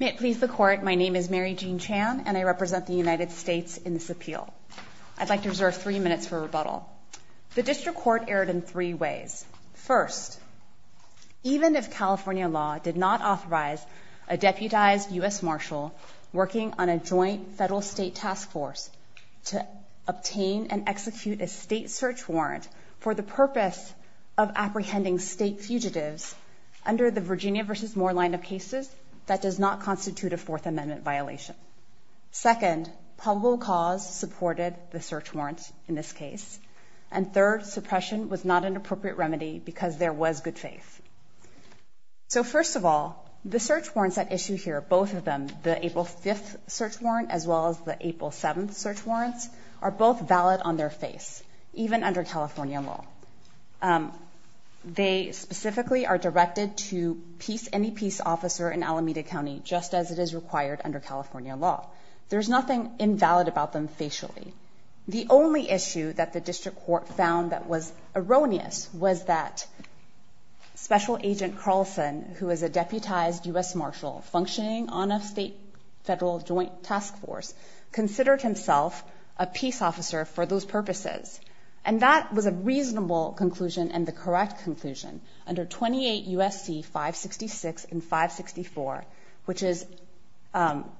May it please the court, my name is Mary Jean Chan and I represent the United States in this appeal. I'd like to reserve three minutes for rebuttal. The district court erred in three ways. First, even if California law did not authorize a deputized U.S. marshal working on a joint federal-state task force to obtain and execute a state search warrant for the purpose of apprehending state fugitives under the Virginia v. Moore line of cases, that does not constitute a Fourth Amendment violation. Second, probable cause supported the search warrant in this case. And third, suppression was not an appropriate remedy because there was good faith. So first of all, the search warrants at issue here, both of them, the April 5th search warrant as well as the April 7th search warrants, are both invalid on their face, even under California law. They specifically are directed to any peace officer in Alameda County just as it is required under California law. There's nothing invalid about them facially. The only issue that the district court found that was erroneous was that Special Agent Carlson, who is a deputized U.S. marshal functioning on a state-federal joint task force, considered himself a peace officer for those purposes. And that was a reasonable conclusion and the correct conclusion. Under 28 U.S.C. 566 and 564, which is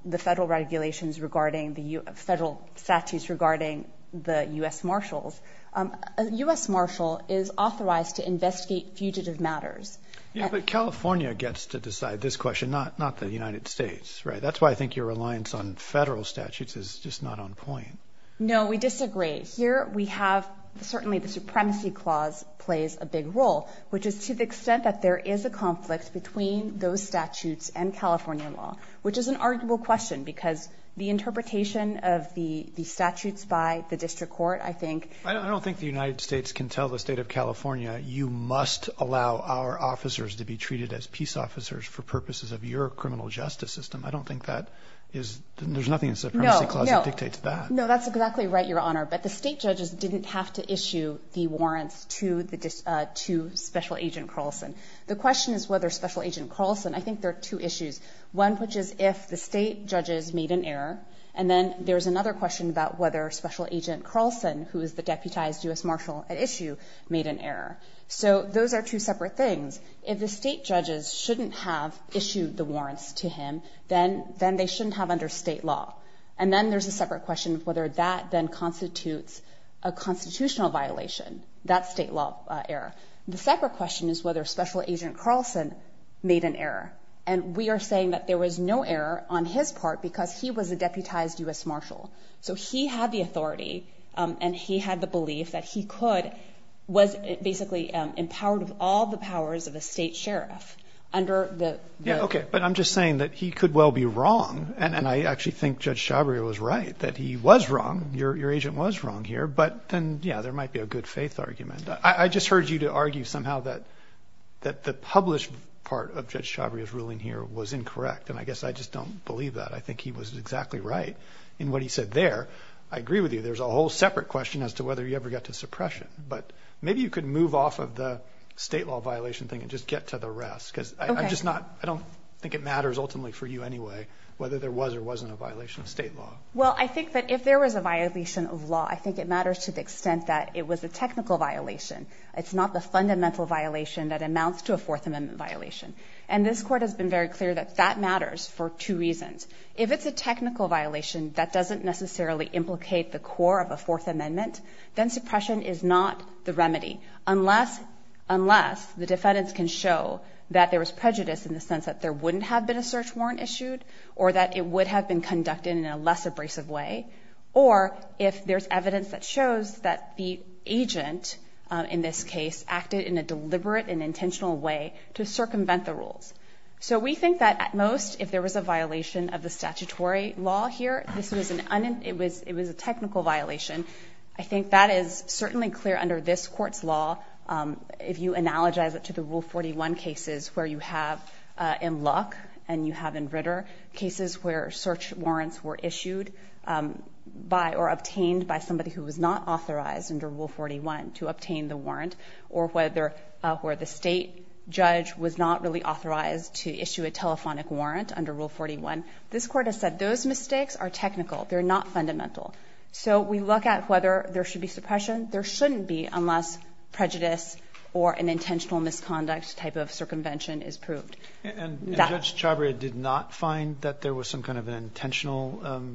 the federal regulations regarding the federal statutes regarding the U.S. marshals, a U.S. marshal is authorized to investigate fugitive matters. Yeah, but California gets to decide this question, not the United States, right? That's why I think your reliance on federal statutes is just not on point. No, we disagree. Here we have, certainly the Supremacy Clause plays a big role, which is to the extent that there is a conflict between those statutes and California law, which is an arguable question because the interpretation of the statutes by the district court, I think... I don't think the United States can tell the state of California, you must allow our officers to be treated as peace officers for purposes of your criminal justice system. I don't think that is... There's nothing in the Supremacy Clause that dictates that. No, that's exactly right, Your Honor. But the state judges didn't have to issue the warrants to Special Agent Carlson. The question is whether Special Agent Carlson... I think there are two issues. One, which is if the state judges made an error. And then there's another question about whether Special Agent Carlson, who is the deputized U.S. Marshal at issue, made an error. So those are two separate things. If the state judges shouldn't have issued the warrants to him, then they shouldn't have under state law. And then there's a separate question of whether that then constitutes a constitutional violation, that state law error. The separate question is whether Special Agent Carlson made an error. And we are saying that there was no error on his part because he was a deputized U.S. Marshal. So he had the authority and he had the belief that he could... Was basically empowered of all the powers of a state sheriff under the... Yeah, okay. But I'm just saying that he could well be wrong. And I actually think Judge Chabria was right, that he was wrong. Your agent was wrong here. But then, yeah, there might be a good faith argument. I just heard you to argue somehow that the published part of Judge Chabria's ruling here was incorrect. And I guess I just don't believe that. I think he was exactly right in what he said there. I agree with you. There's a whole separate question as to whether you ever got to suppression. But maybe you could move off of the state law violation thing and just get to the rest. Because I'm just not... I don't think it matters ultimately for you anyway, whether there was or wasn't a violation of state law. Well, I think that if there was a violation of law, I think it matters to the extent that it was a technical violation. It's not the fundamental violation that amounts to a Fourth Amendment violation. And this court has been very clear that that matters for two reasons. If it's a technical violation, that doesn't necessarily implicate the core of a Fourth Amendment, then suppression is not the remedy, unless the defendants can show that there was prejudice in the sense that there wouldn't have been a search warrant issued, or that it would have been conducted in a less abrasive way, or if there's evidence that shows that the agent in this case acted in a deliberate and intentional way to circumvent the rules. So we think that at most, if there was a violation of the statutory law here, it was a technical violation. I think that is certainly clear under this court's law. If you analogize it to the Rule 41 cases where you have in Luck and you have in Ritter cases where search warrants were issued by or obtained by somebody who was not authorized under Rule 41 to obtain the warrant, or where the state judge was not really authorized to issue a telephonic warrant under Rule 41, this court has said those mistakes are technical. They're not fundamental. So we look at whether there should be suppression. There shouldn't be unless prejudice or an intentional misconduct type of circumvention is proved. And Judge Chabria did not find that there was some kind of an intentional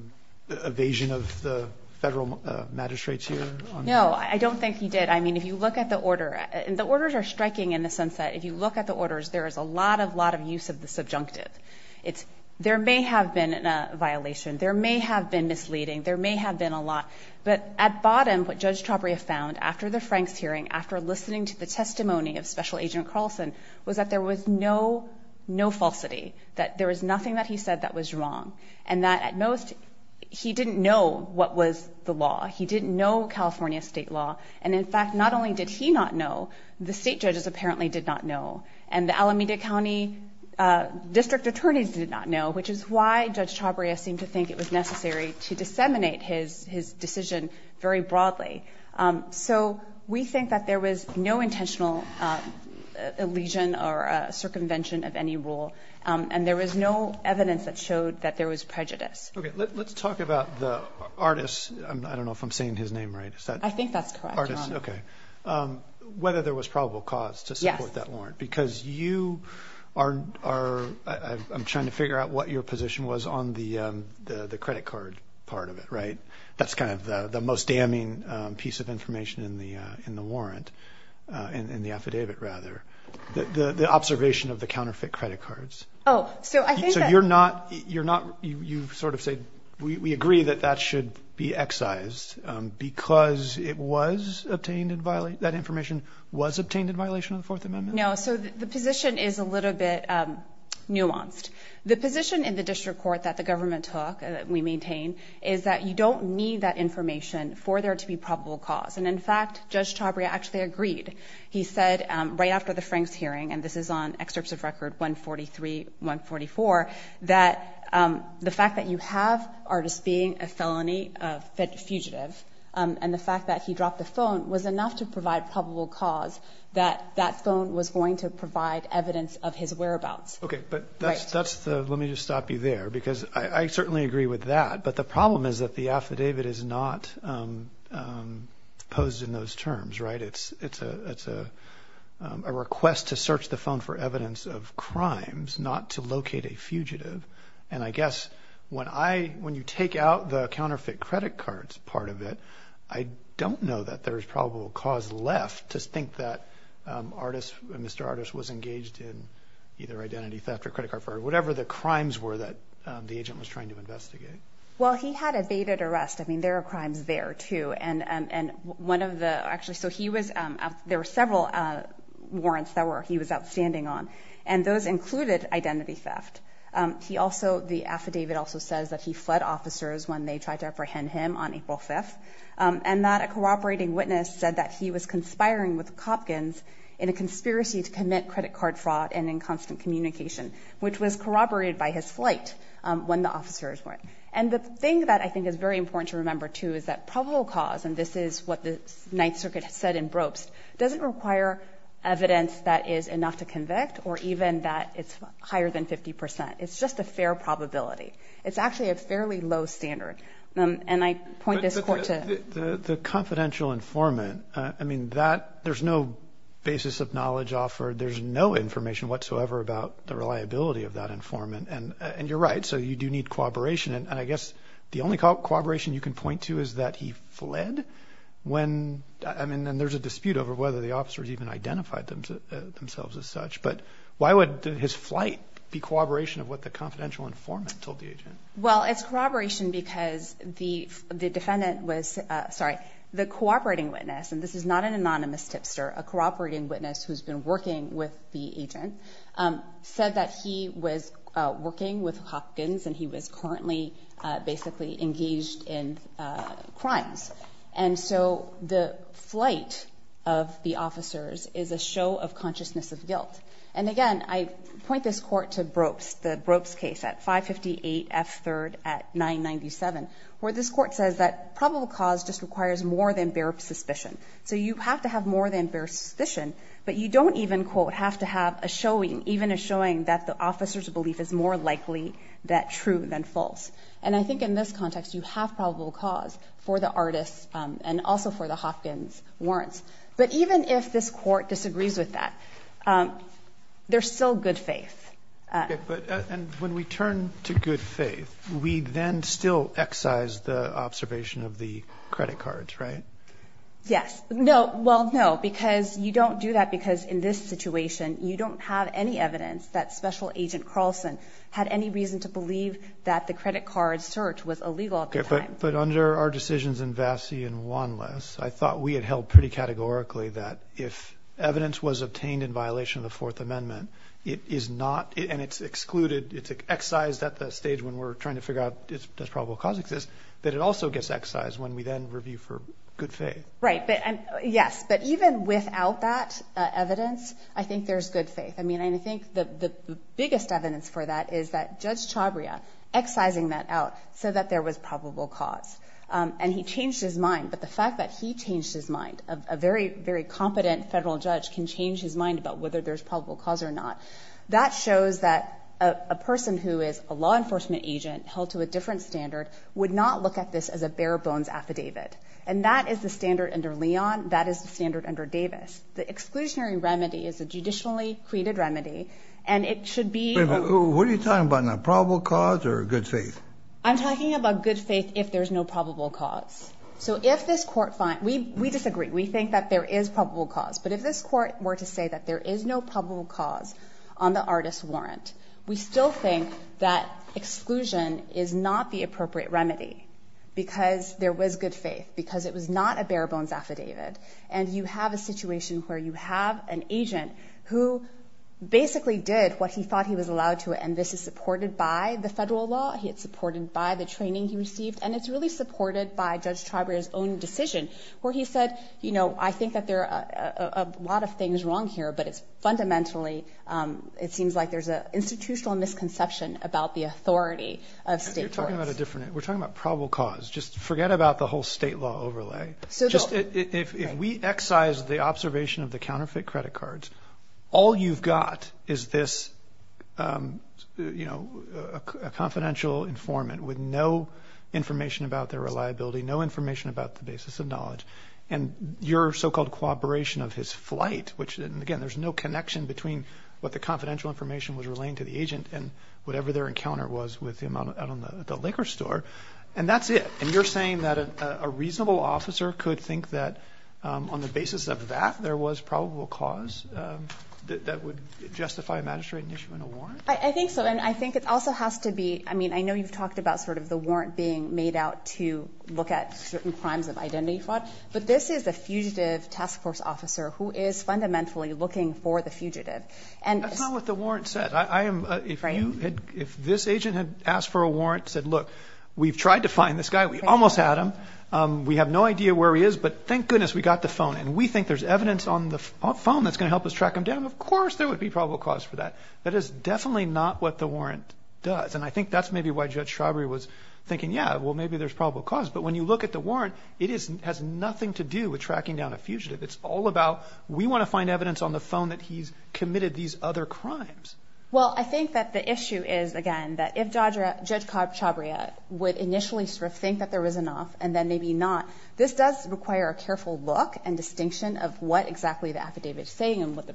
evasion of the federal magistrates here? No, I don't think he did. I mean, if you look at the order, and the orders are striking in the sense that if you look at the orders, there is a lot of use of the subjunctive. There may have been a violation. There may have been misleading. There may have been a lot. But at bottom, what Judge Chabria found after the Franks hearing, after listening to the testimony of Special Agent Carlson, was that there was no falsity, that there was nothing that he said that was wrong, and that at most he didn't know what was the law. He didn't know California state law. And in fact, not only did he not know, the state judges apparently did not know. And the Alameda County district attorneys did not know, which is why Judge Chabria seemed to think it was necessary to disseminate his decision very broadly. So we think that there was no intentional elision or circumvention of any rule, and there was no evidence that showed that there was prejudice. Let's talk about the artist. I don't know if I'm saying his name right. I think that's correct, Your Honor. Whether there was probable cause to support that warrant, because you are, I'm trying to figure out what your position was on the credit card part of it, right? That's kind of the most damning piece of information in the warrant, in the affidavit, rather. The observation of the counterfeit credit cards. Oh, so I think that... So you're not, you sort of say, we agree that that should be excised, because it was obtained in violation, that information was obtained in violation of the Fourth Amendment? No, so the position is a little bit nuanced. The position in the district court that the to be probable cause. And in fact, Judge Chabria actually agreed. He said, right after the Franks hearing, and this is on excerpts of record 143, 144, that the fact that you have artist being a felony fugitive, and the fact that he dropped the phone was enough to provide probable cause that that phone was going to provide evidence of his whereabouts. Okay, but that's the, let me just stop you there, because I certainly agree with that, but the problem is that the affidavit is not posed in those terms, right? It's a request to search the phone for evidence of crimes, not to locate a fugitive. And I guess when you take out the counterfeit credit cards part of it, I don't know that there's probable cause left to think that artist, Mr. Artist, was engaged in either identity theft or credit card fraud, whatever the crimes were that the agent was trying to investigate. Well, he had evaded arrest. I mean, there are crimes there too. And one of the, actually, so he was, there were several warrants that he was outstanding on, and those included identity theft. He also, the affidavit also says that he fled officers when they tried to apprehend him on April 5th, and that a corroborating witness said that he was conspiring with the Copkins in a conspiracy to commit credit card fraud and in constant communication, which was corroborated by his flight when the officers went. And the thing that I think is very important to remember too, is that probable cause, and this is what the Ninth Circuit has said in Brobst, doesn't require evidence that is enough to convict or even that it's higher than 50%. It's just a fair probability. It's actually a fairly low standard. And I point this court to... The confidential informant, I mean, that, there's no basis of knowledge offered. There's no information whatsoever about the reliability of that informant. And you're right. So you do need cooperation. And I guess the only cooperation you can point to is that he fled when... I mean, and there's a dispute over whether the officers even identified themselves as such, but why would his flight be corroboration of what the confidential informant told the agent? Well, it's corroboration because the defendant was, sorry, the corroborating witness, and this is not an anonymous tipster, a corroborating witness who's been working with the agent, said that he was working with Hopkins and he was currently basically engaged in crimes. And so the flight of the officers is a show of consciousness of guilt. And again, I point this court to Brobst, the Brobst case at 558 F. 3rd at 997, where this court says that probable cause just requires more than bare suspicion. So you have to have more than bare suspicion, but you don't even, quote, have to have a showing, even a showing that the officer's belief is more likely that true than false. And I think in this context, you have probable cause for the artist and also for the Hopkins warrants. But even if this court disagrees with that, there's still good faith. But when we turn to good faith, we then still excise the observation of the credit cards, right? Yes. No. Well, no, because you don't do that because in this situation, you don't have any evidence that Special Agent Carlson had any reason to believe that the credit card search was illegal at the time. But under our decisions in Vassey and Wanless, I thought we had held pretty categorically that if evidence was obtained in violation of the Fourth Amendment, it is not, and it's excluded, it's excised at the stage when we're trying to figure out does probable cause exist, that it also gets excised when we then review for good faith. Right. But yes, but even without that evidence, I think there's good faith. I mean, and I think the biggest evidence for that is that Judge Chabria excising that out so that there was probable cause. And he changed his mind, but the fact that he changed his mind, a very, very competent federal judge can change his mind about whether there's probable cause or not. That shows that a person who is a law enforcement agent held to a different standard would not look at this as a bare bones affidavit. And that is the standard under Leon. That is the standard under Davis. The exclusionary remedy is a judicially created remedy, and it should be. What are you talking about now, probable cause or good faith? I'm talking about good faith if there's no probable cause. So if this court finds, we disagree. We think that there is probable cause. But if this court were to say that there is no probable cause on the artist warrant, we still think that exclusion is not the appropriate remedy because there was good faith, because it was not a bare bones affidavit. And you have a situation where you have an agent who basically did what he thought he was allowed to. And this is supported by the federal law. He is supported by the training he received. And it's really supported by Judge Treiber's own decision where he said, you know, I think that there are a lot of things wrong here, but it's fundamentally it seems like there's an institutional misconception about the authority of state. You're talking about a different we're talking about probable cause. Just forget about the whole state law overlay. So just if we excise the observation of the counterfeit credit cards, all you've got is this, you know, a confidential informant with no information about their reliability, no information about the basis of knowledge and your so-called cooperation of his flight, which again, there's no connection between what the confidential information was relating to the agent and whatever their encounter was with him out on the liquor store. And that's it. And you're saying that a reasonable officer could think that on the issue in a warrant? I think so. And I think it also has to be I mean, I know you've talked about sort of the warrant being made out to look at certain crimes of identity fraud. But this is a fugitive task force officer who is fundamentally looking for the fugitive. And that's not what the warrant said. I am if you had if this agent had asked for a warrant, said, look, we've tried to find this guy. We almost had him. We have no idea where he is. But thank goodness we got the phone. And we think there's evidence on the phone that's going to help us track him down. Of course, there would be probable cause for that. That is definitely not what the warrant does. And I think that's maybe why Judge Chabria was thinking, yeah, well, maybe there's probable cause. But when you look at the warrant, it has nothing to do with tracking down a fugitive. It's all about we want to find evidence on the phone that he's committed these other crimes. Well, I think that the issue is, again, that if Judge Chabria would initially sort of think that there was enough and then maybe not, this does require a careful look and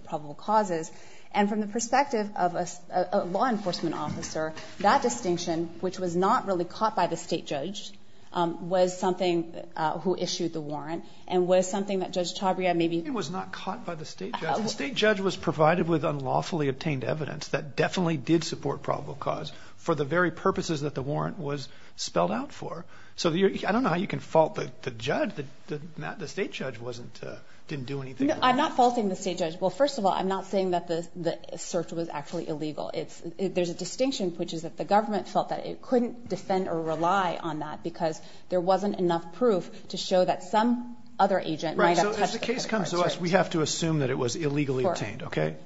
probable causes. And from the perspective of a law enforcement officer, that distinction, which was not really caught by the state judge, was something who issued the warrant and was something that Judge Chabria maybe was not caught by the state judge. The state judge was provided with unlawfully obtained evidence that definitely did support probable cause for the very purposes that the warrant was spelled out for. So I don't know how you can fault the judge that the state judge wasn't didn't do anything. I'm not faulting the state judge. Well, first of all, I'm not saying that the search was actually illegal. It's there's a distinction, which is that the government felt that it couldn't defend or rely on that because there wasn't enough proof to show that some other agent. Right. So as the case comes to us, we have to assume that it was illegally obtained. OK.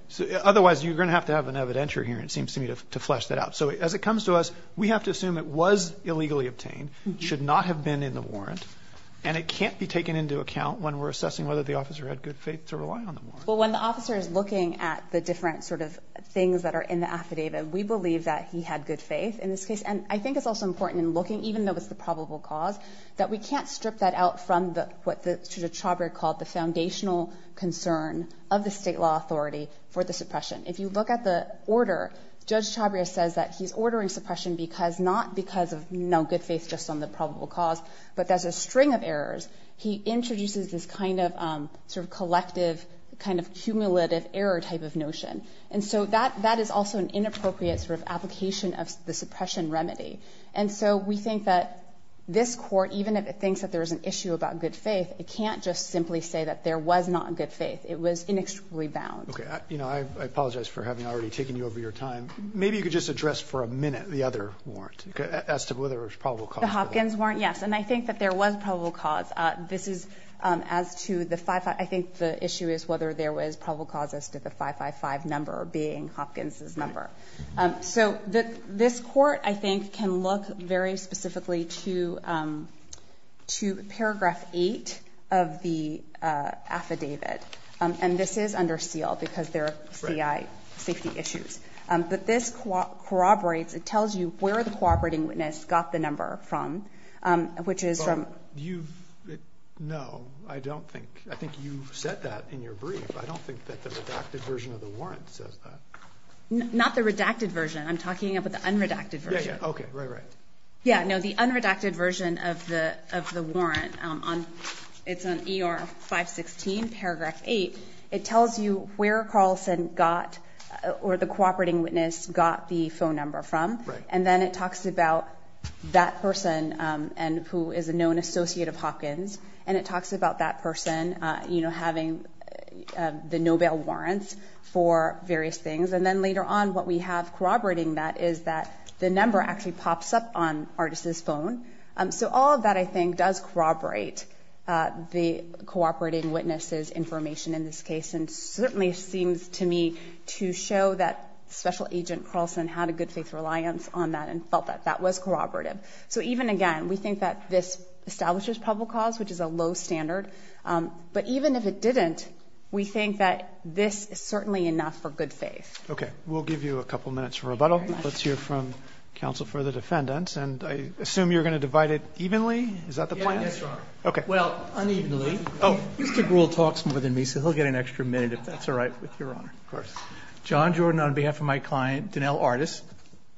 Otherwise, you're going to have to have an evidentiary here. And it seems to me to flesh that out. So as it comes to us, we have to assume it was illegally obtained, should not have been in the warrant. And it can't be taken into account when we're assessing whether the officer had good faith to rely on the warrant. Well, when the officer is looking at the different sort of things that are in the affidavit, we believe that he had good faith in this case. And I think it's also important in looking, even though it's the probable cause that we can't strip that out from the what the Chabria called the foundational concern of the state law authority for the suppression. If you look at the order, Judge Chabria says that he's ordering suppression because not because of no good faith just on the probable cause, but there's a string of cumulative error type of notion. And so that that is also an inappropriate sort of application of the suppression remedy. And so we think that this court, even if it thinks that there is an issue about good faith, it can't just simply say that there was not good faith. It was inextricably bound. OK. You know, I apologize for having already taken you over your time. Maybe you could just address for a minute the other warrant as to whether it's probable. The Hopkins warrant. Yes. And I think that there was probable cause. This is as to the five, I think the issue is whether there was probable cause as to the 555 number being Hopkins's number. So this court, I think, can look very specifically to to paragraph eight of the affidavit. And this is under seal because there are safety issues. But this corroborates, it tells you where the cooperating witness got the number from, which is from you. No, I don't think I think you said that in your brief. I don't think that the redacted version of the warrant says that. Not the redacted version. I'm talking about the unredacted version. OK. Right, right. Yeah. No, the unredacted version of the of the warrant on it's on E.R. 516, paragraph eight. It tells you where Carlson got or the cooperating witness got the phone number from. And then it talks about that person and who is a known associate of Hopkins. And it talks about that person, you know, having the Nobel warrants for various things. And then later on, what we have corroborating that is that the number actually pops up on artist's phone. So all of that, I think, does corroborate the cooperating witnesses information in this case. And certainly seems to me to show that Special Agent Carlson had a good faith reliance on that and felt that that was corroborative. So even again, we think that this establishes public cause, which is a low standard. But even if it didn't, we think that this is certainly enough for good faith. OK, we'll give you a couple of minutes for rebuttal. Let's hear from counsel for the defendants. And I assume you're going to divide it evenly. Is that the point? Yes, Your Honor. OK, well, unevenly. Oh, you stick rule talks more than me, so he'll get an extra minute if that's all right with Your Honor. Of course. John Jordan, on behalf of my client, Danelle Artis,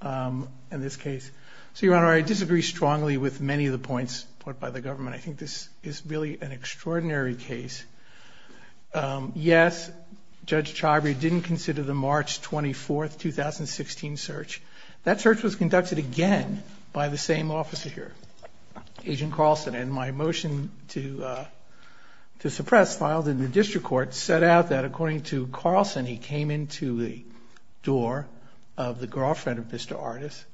in this case. So, Your Honor, I disagree strongly with many of the points put by the government. I think this is really an extraordinary case. Yes, Judge Chivrey didn't consider the March 24th, 2016 search. That search was conducted again by the same officer here, Agent Carlson. And my motion to suppress, filed in the district court, set out that according to the door of the girlfriend of Mr. Artis,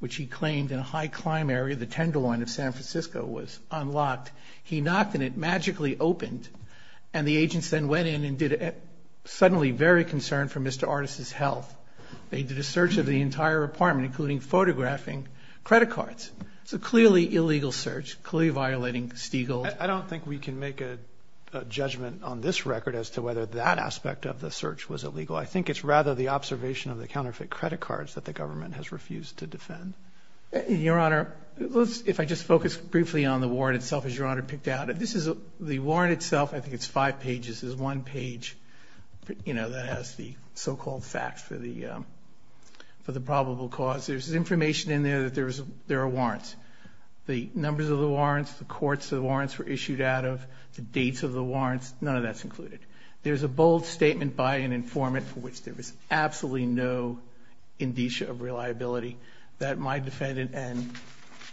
which he claimed in a high-climb area, the Tenderloin of San Francisco, was unlocked. He knocked and it magically opened. And the agents then went in and did it, suddenly very concerned for Mr. Artis's health. They did a search of the entire apartment, including photographing credit cards. It's a clearly illegal search, clearly violating Stiglitz. I don't think we can make a judgment on this record as to whether that aspect of the search was illegal. I think it's rather the observation of the counterfeit credit cards that the government has refused to defend. Your Honor, let's, if I just focus briefly on the warrant itself, as Your Honor picked out, this is the warrant itself. I think it's five pages. There's one page, you know, that has the so-called facts for the probable cause. There's information in there that there are warrants. The numbers of the warrants, the courts the warrants were issued out of, the dates of the warrants, none of that's included. There's a bold statement by an informant for which there was absolutely no indicia of reliability that my defendant and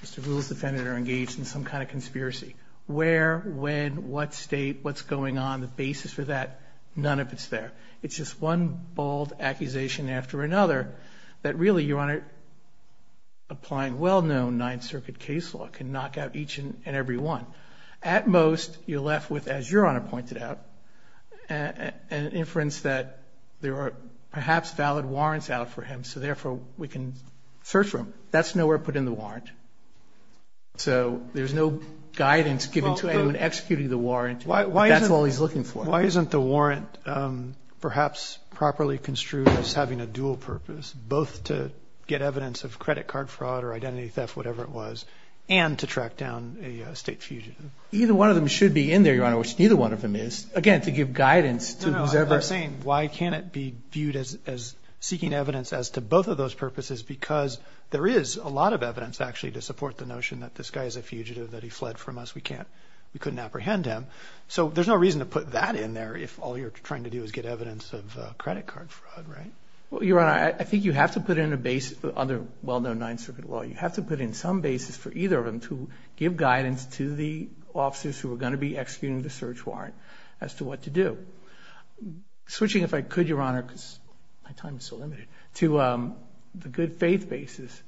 Mr. Gould's defendant are engaged in some kind of conspiracy. Where, when, what state, what's going on, the basis for that, none of it's there. It's just one bold accusation after another that really, Your Honor, applying well-known Ninth Circuit case law can knock out each and every one. At most, you're left with, as Your Honor pointed out, an inference that there are perhaps valid warrants out for him. So therefore we can search for him. That's nowhere put in the warrant. So there's no guidance given to anyone executing the warrant. That's all he's looking for. Why isn't the warrant perhaps properly construed as having a dual purpose, both to get evidence of credit card fraud or identity theft, whatever it was, and to get fugitive? Either one of them should be in there, Your Honor, which neither one of them is. Again, to give guidance to whoever... No, no, I'm saying, why can't it be viewed as seeking evidence as to both of those purposes? Because there is a lot of evidence actually to support the notion that this guy is a fugitive, that he fled from us. We can't, we couldn't apprehend him. So there's no reason to put that in there if all you're trying to do is get evidence of credit card fraud, right? Well, Your Honor, I think you have to put in a basis, under well-known Ninth Circuit law, you have to put in some basis for either of them to give guidance to the officers who are going to be executing the search warrant as to what to do. Switching, if I could, Your Honor, because my time is so limited, to the good faith basis,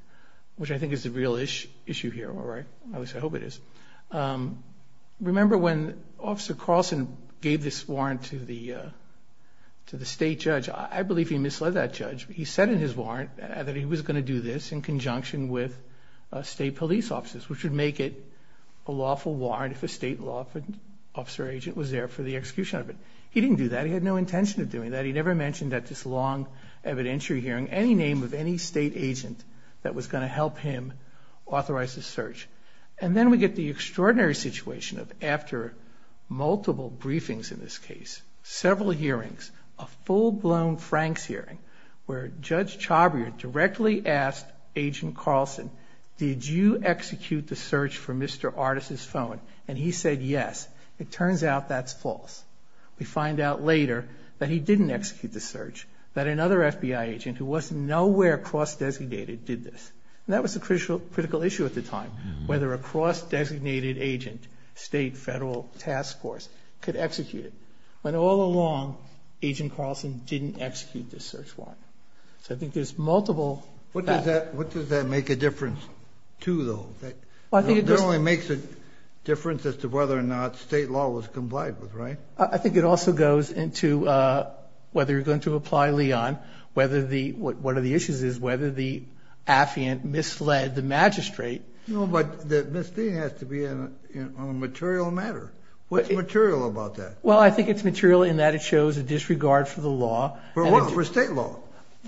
which I think is the real issue here, all right? At least I hope it is. Remember when Officer Carlson gave this warrant to the state judge, I believe he misled that judge. He said in his warrant that he was going to do this in conjunction with state police officers, which would make it a lawful warrant if a state law officer agent was there for the execution of it. He didn't do that. He had no intention of doing that. He never mentioned that this long evidentiary hearing, any name of any state agent that was going to help him authorize the search. And then we get the extraordinary situation of after multiple briefings in this case, several hearings, a full-blown Franks hearing where Judge Chabrier directly asked Agent Carlson, did you execute the search for Mr. Artis' phone? And he said, yes. It turns out that's false. We find out later that he didn't execute the search, that another FBI agent who was nowhere cross-designated did this. And that was a critical issue at the time, whether a cross-designated agent, state, federal task force could execute it. When all along, Agent Carlson didn't execute the search warrant. So I think there's multiple. What does that, what does that make a difference to though? That only makes a difference as to whether or not state law was complied with, right? I think it also goes into whether you're going to apply Leon, whether the, what are the issues is whether the affiant misled the magistrate. No, but the misdemeanor has to be on a material matter. What's material about that? Well, I think it's material in that it shows a disregard for the law. For what? For state law?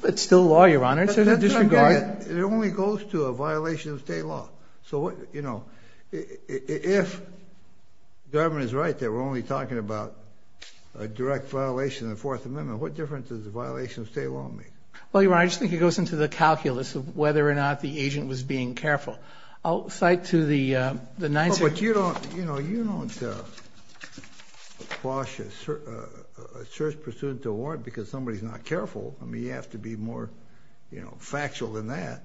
It's still law, Your Honor. It's a disregard. It only goes to a violation of state law. So what, you know, if the government is right that we're only talking about a direct violation of the fourth amendment, what difference does the violation of state law make? Well, Your Honor, I just think it goes into the calculus of whether or not the agent was being careful. I'll cite to the, uh, the nine. But you don't, you know, you don't, uh, quash a search pursuant to a warrant because somebody is not careful. I mean, you have to be more factual than that.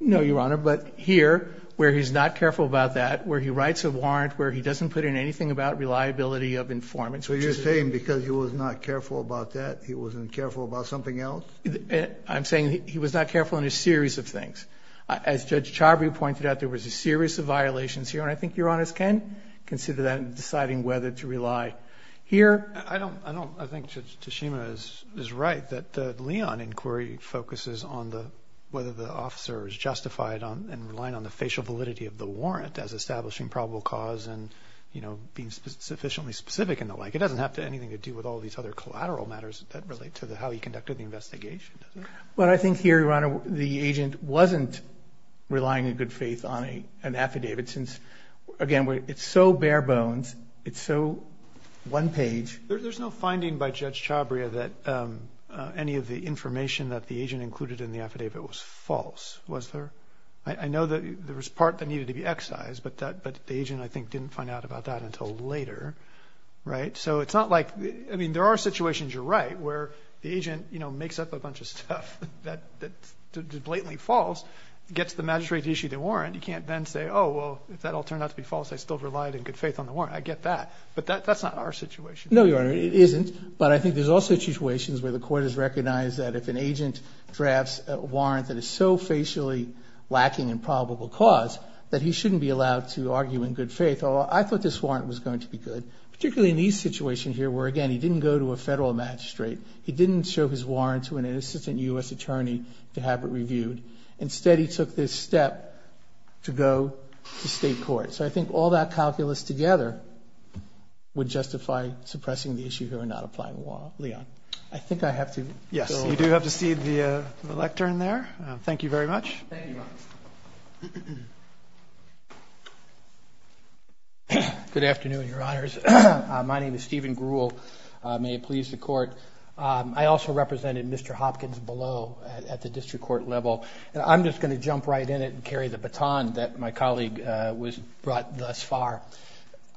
No, Your Honor. But here where he's not careful about that, where he writes a warrant, where he doesn't put in anything about reliability of informants. So you're saying because he was not careful about that, he wasn't careful about something else? I'm saying he was not careful in a series of things. As Judge Chavry pointed out, there was a series of violations here. And I think Your Honor's can consider that in deciding whether to rely here. I don't, I don't, I think Judge Tashima is, is right that the Leon inquiry focuses on the, whether the officer is justified on and relying on the facial validity of the warrant as establishing probable cause and, you know, being sufficiently specific and the like. It doesn't have to, anything to do with all of these other collateral matters that relate to the, how he conducted the investigation. Well, I think here, Your Honor, the agent wasn't relying in good faith on a, an affidavit since again, it's so bare bones, it's so one page. There's no finding by Judge Chavry that any of the information that the agent included in the affidavit was false. Was there? I know that there was part that needed to be excised, but that, but the agent, I think didn't find out about that until later. Right. So it's not like, I mean, there are situations you're right, where the agent, you know, just that blatantly false, gets the magistrate to issue the warrant. You can't then say, oh, well, if that all turned out to be false, I still relied in good faith on the warrant. I get that, but that, that's not our situation. No, Your Honor, it isn't, but I think there's also situations where the court has recognized that if an agent drafts a warrant that is so facially lacking in probable cause that he shouldn't be allowed to argue in good faith. Oh, I thought this warrant was going to be good, particularly in these situation here, where again, he didn't go to a federal magistrate. He didn't show his warrant to an assistant U.S. attorney to have it reviewed. Instead, he took this step to go to state court. So I think all that calculus together would justify suppressing the issue here and not applying the warrant. Leon, I think I have to. Yes, you do have to see the, the lectern there. Thank you very much. Good afternoon, Your Honors. My name is Stephen Grewal. May it please the court. I also represented Mr. Hopkins below at the district court level, and I'm just going to jump right in it and carry the baton that my colleague was brought thus far.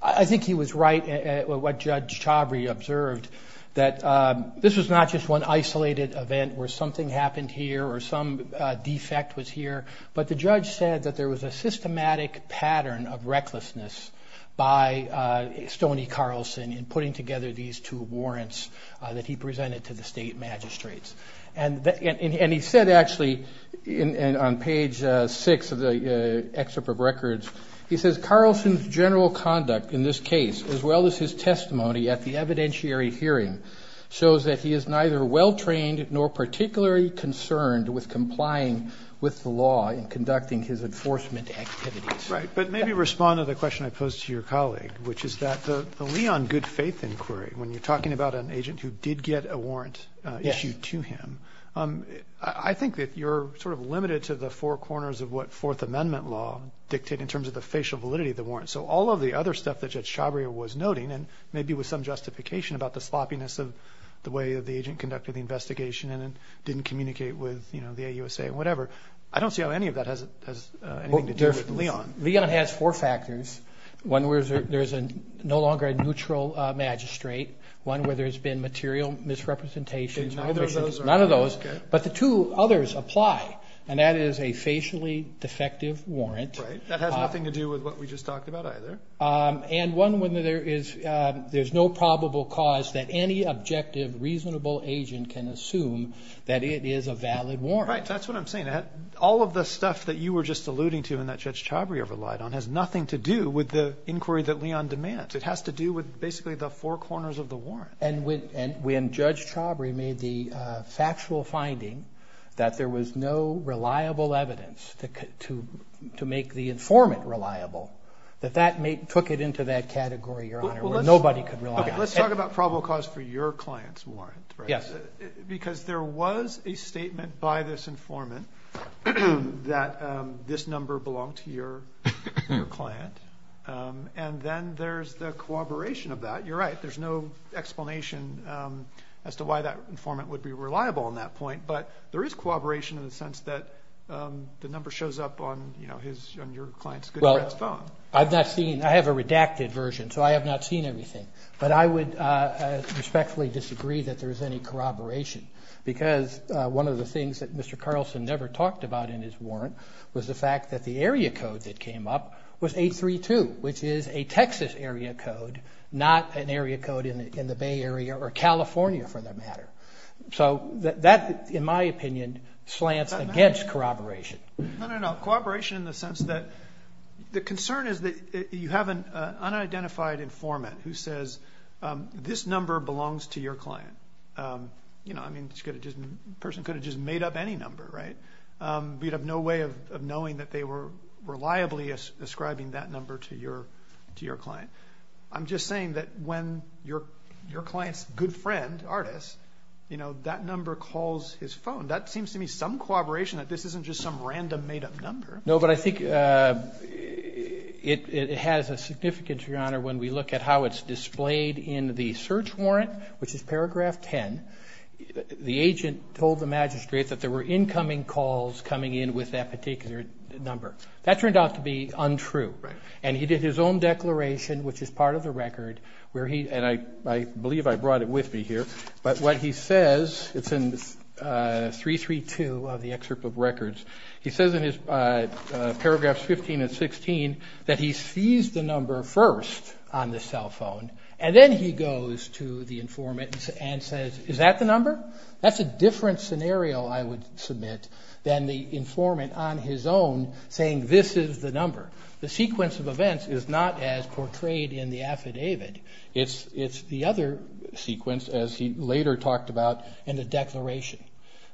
I think he was right, what Judge Chabry observed, that this was not just one isolated event where something happened here or some defect was here, but the judge said that there was a systematic pattern of recklessness by Stoney Carlson in putting together these two warrants that he presented to the state magistrates. And he said, actually, on page six of the excerpt of records, he says, Carlson's general conduct in this case, as well as his testimony at the evidentiary hearing, shows that he is neither well-trained nor particularly concerned with complying with the law in conducting his enforcement activities. Right. But maybe respond to the question I posed to your colleague, which is that the Leon good faith inquiry, when you're talking about an agent who did get a warrant issued to him, I think that you're sort of limited to the four corners of what Fourth Amendment law dictate in terms of the facial validity of the warrant. So all of the other stuff that Judge Chabry was noting, and maybe with some justification about the sloppiness of the way that the agent conducted the investigation and didn't communicate with, you know, the AUSA, whatever. I don't see how any of that has anything to do with Leon. Leon has four factors. One where there's no longer a neutral magistrate, one where there's been material misrepresentation, none of those, but the two others apply. And that is a facially defective warrant. Right. That has nothing to do with what we just talked about either. And one where there is no probable cause that any objective, reasonable agent can assume that it is a valid warrant. That's what I'm saying. All of the stuff that you were just alluding to and that Judge Chabry relied on has nothing to do with the inquiry that Leon demands. It has to do with basically the four corners of the warrant. And when Judge Chabry made the factual finding that there was no reliable evidence to make the informant reliable, that that took it into that category, Your Honor, where nobody could rely on. Let's talk about probable cause for your client's warrant, because there was a client and then there's the corroboration of that. You're right. There's no explanation as to why that informant would be reliable on that point. But there is corroboration in the sense that the number shows up on, you know, his, on your client's phone. I've not seen, I have a redacted version, so I have not seen everything, but I would respectfully disagree that there is any corroboration because one of the things that Mr. Carlson never talked about in his warrant was the fact that the area code that came up was 832, which is a Texas area code, not an area code in the Bay Area or California for that matter. So that, in my opinion, slants against corroboration. No, no, no. Corroboration in the sense that the concern is that you have an unidentified informant who says, this number belongs to your client. You know, I mean, the person could have just made up any number, right? We'd have no way of knowing that they were reliably ascribing that number to your, to your client. I'm just saying that when your, your client's good friend, artist, you know, that number calls his phone. That seems to me some corroboration that this isn't just some random made up number. No, but I think it has a significance, Your Honor, when we look at how it's displayed in the search warrant, which is paragraph 10, the agent told the calls coming in with that particular number. That turned out to be untrue. And he did his own declaration, which is part of the record where he, and I, I believe I brought it with me here, but what he says, it's in 332 of the excerpt of records, he says in his paragraphs 15 and 16, that he sees the number first on the cell phone. And then he goes to the informant and says, is that the number? That's a different scenario I would submit than the informant on his own saying, this is the number. The sequence of events is not as portrayed in the affidavit. It's, it's the other sequence, as he later talked about in the declaration.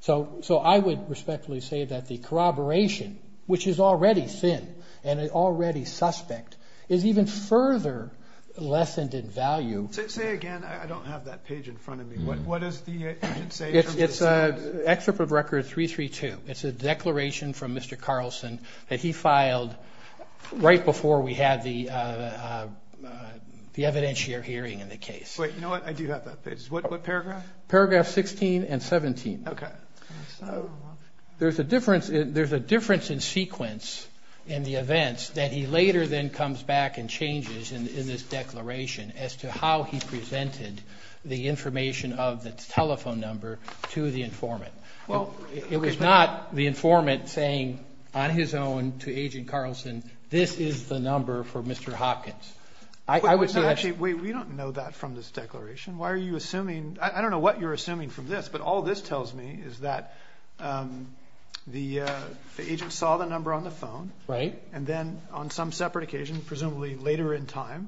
So, so I would respectfully say that the corroboration, which is already thin and already suspect, is even further lessened in value. Say again, I don't have that page in front of me. What is the, you should say it's an excerpt of record 332. It's a declaration from Mr. Carlson that he filed right before we had the evidentiary hearing in the case. Wait, you know what? I do have that page. What, what paragraph? Paragraph 16 and 17. Okay. There's a difference in, there's a difference in sequence in the events that he later then comes back and changes in this declaration as to how he presented the information of the telephone number to the informant. Well, it was not the informant saying on his own to agent Carlson, this is the number for Mr. Hopkins. I would say actually, wait, we don't know that from this declaration. Why are you assuming, I don't know what you're assuming from this, but all this tells me is that, um, the, uh, the agent saw the number on the phone, right? And then on some separate occasion, presumably later in time,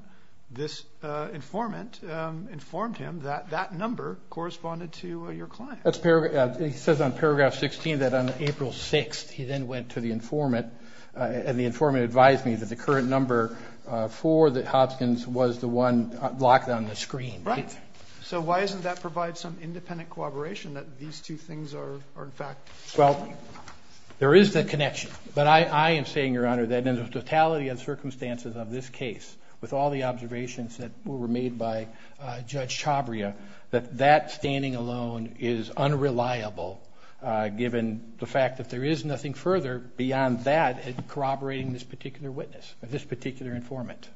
this, uh, informant, um, informed him that that number corresponded to your client. That's paragraph, he says on paragraph 16, that on April 6th, he then went to the informant, uh, and the informant advised me that the current number, uh, for the Hopkins was the one locked on the screen. So why isn't that provide some independent cooperation that these two things are, are in fact. Well, there is the connection, but I, I am saying your honor, that in the totality of the circumstances of this case, with all the observations that were made by, uh, judge Chabria, that that standing alone is unreliable. Uh, given the fact that there is nothing further beyond that corroborating this particular witness or this particular informant,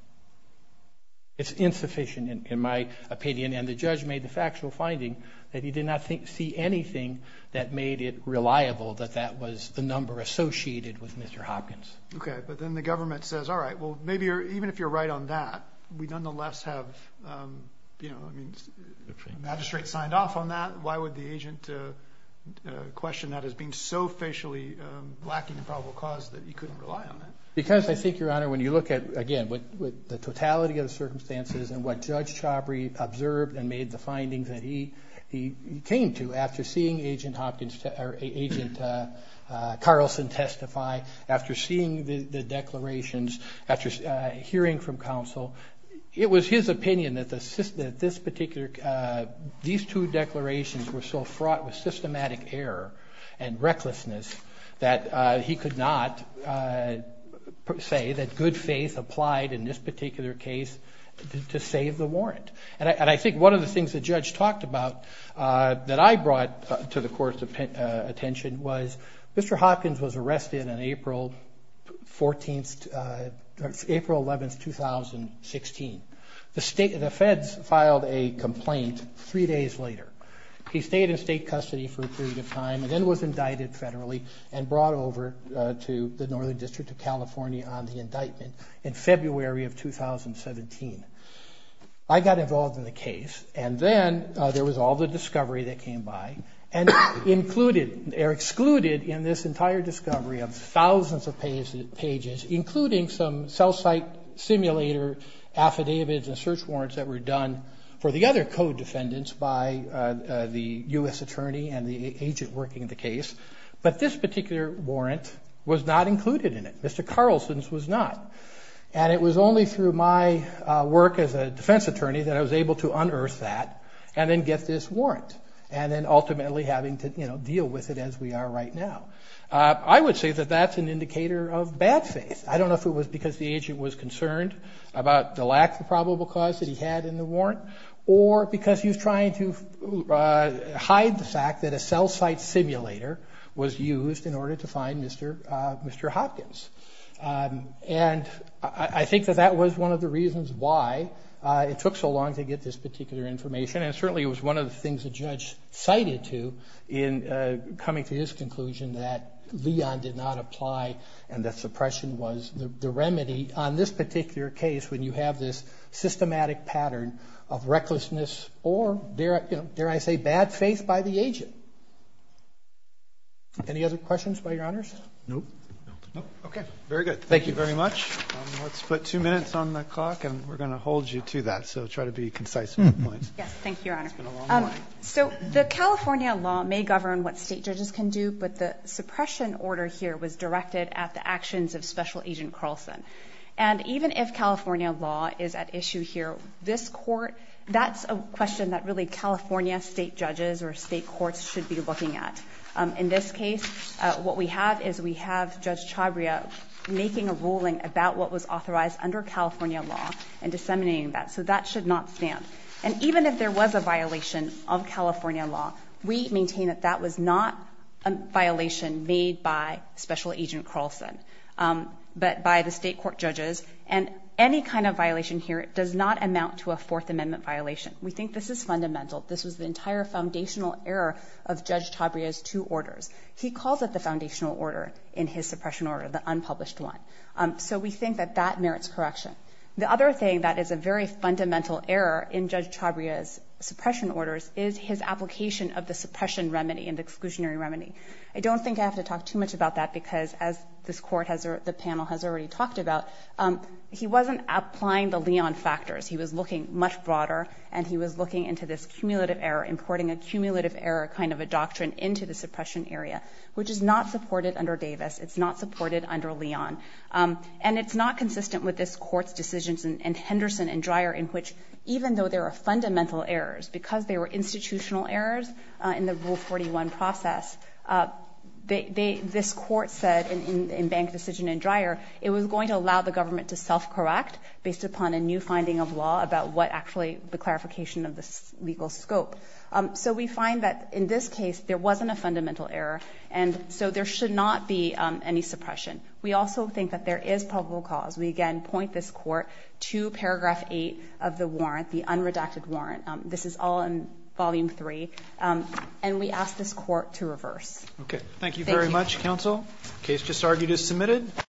it's insufficient in my opinion, and the judge made the factual finding that he did not see anything that made it reliable that that was the number associated with Mr. Hopkins. Okay. But then the government says, all right, well, maybe you're, even if you're right on that, we nonetheless have, um, you know, I mean, the magistrate signed off on that. Why would the agent, uh, uh, question that as being so facially, um, lacking the probable cause that he couldn't rely on it? Because I think your honor, when you look at, again, with, with the totality of the circumstances and what judge Chabria observed and made the findings that he, he came to after seeing agent Hopkins or agent, uh, uh, Carlson testify after seeing the declarations after, uh, hearing from counsel, it was his opinion that the system that this particular, uh, these two declarations were so fraught with systematic error and recklessness that, uh, he could not, uh, say that good faith applied in this particular case to save the warrant. And I, and I think one of the things that judge talked about, uh, that I was arrested on April 14th, uh, April 11th, 2016. The state of the feds filed a complaint three days later. He stayed in state custody for a period of time and then was indicted federally and brought over to the Northern district of California on the indictment in February of 2017. I got involved in the case and then, uh, there was all the discovery that of thousands of pages, pages, including some cell site simulator, affidavits and search warrants that were done for the other code defendants by, uh, uh, the U S attorney and the agent working at the case, but this particular warrant was not included in it. Mr. Carlson's was not, and it was only through my work as a defense attorney that I was able to unearth that and then get this warrant and then ultimately having to, you know, deal with it as we are right now. Uh, I would say that that's an indicator of bad faith. I don't know if it was because the agent was concerned about the lack of the probable cause that he had in the warrant or because he was trying to, uh, hide the fact that a cell site simulator was used in order to find Mr., uh, Mr. Hopkins. Um, and I think that that was one of the reasons why, uh, it took so long to get this particular information. And certainly it was one of the things that judge cited to in, uh, coming to this conclusion that Leon did not apply and that suppression was the remedy on this particular case. When you have this systematic pattern of recklessness or there, you know, there, I say bad faith by the agent. Any other questions by your honors? Nope. Okay. Very good. Thank you very much. Let's put two minutes on the clock and we're going to hold you to that. So try to be concise. Yes. Thank you, Your Honor. So the California law may govern what state judges can do, but the suppression order here was directed at the actions of special agent Carlson. And even if California law is at issue here, this court, that's a question that really California state judges or state courts should be looking at. Um, in this case, uh, what we have is we have judge Chabria making a ruling about what was authorized under California law and disseminating that. So that should not stand. And even if there was a violation of California law, we maintain that that was not a violation made by special agent Carlson. Um, but by the state court judges and any kind of violation here does not amount to a fourth amendment violation. We think this is fundamental. This was the entire foundational error of judge Chabria's two orders. He calls it the foundational order in his suppression order, the unpublished one. Um, so we think that that merits correction. The other thing that is a very fundamental error in judge Chabria's suppression orders is his application of the suppression remedy and exclusionary remedy. I don't think I have to talk too much about that because as this court has, or the panel has already talked about, um, he wasn't applying the Leon factors. He was looking much broader and he was looking into this cumulative error, importing a cumulative error, kind of a doctrine into the suppression area, which is not supported under Davis. It's not supported under Leon. Um, and it's not consistent with this court's decisions and Henderson and Dreyer in which even though there are fundamental errors because they were institutional errors, uh, in the rule 41 process, uh, they, they, this court said in, in, in bank decision and Dreyer, it was going to allow the government to self correct based upon a new finding of law about what actually the clarification of the legal scope. Um, so we find that in this case there wasn't a fundamental error and so there should not be, um, any suppression. We also think that there is probable cause. We again point this court to paragraph eight of the warrant, the unredacted warrant. Um, this is all in volume three. Um, and we asked this court to reverse. Okay. Thank you very much. Counsel case just argued is submitted.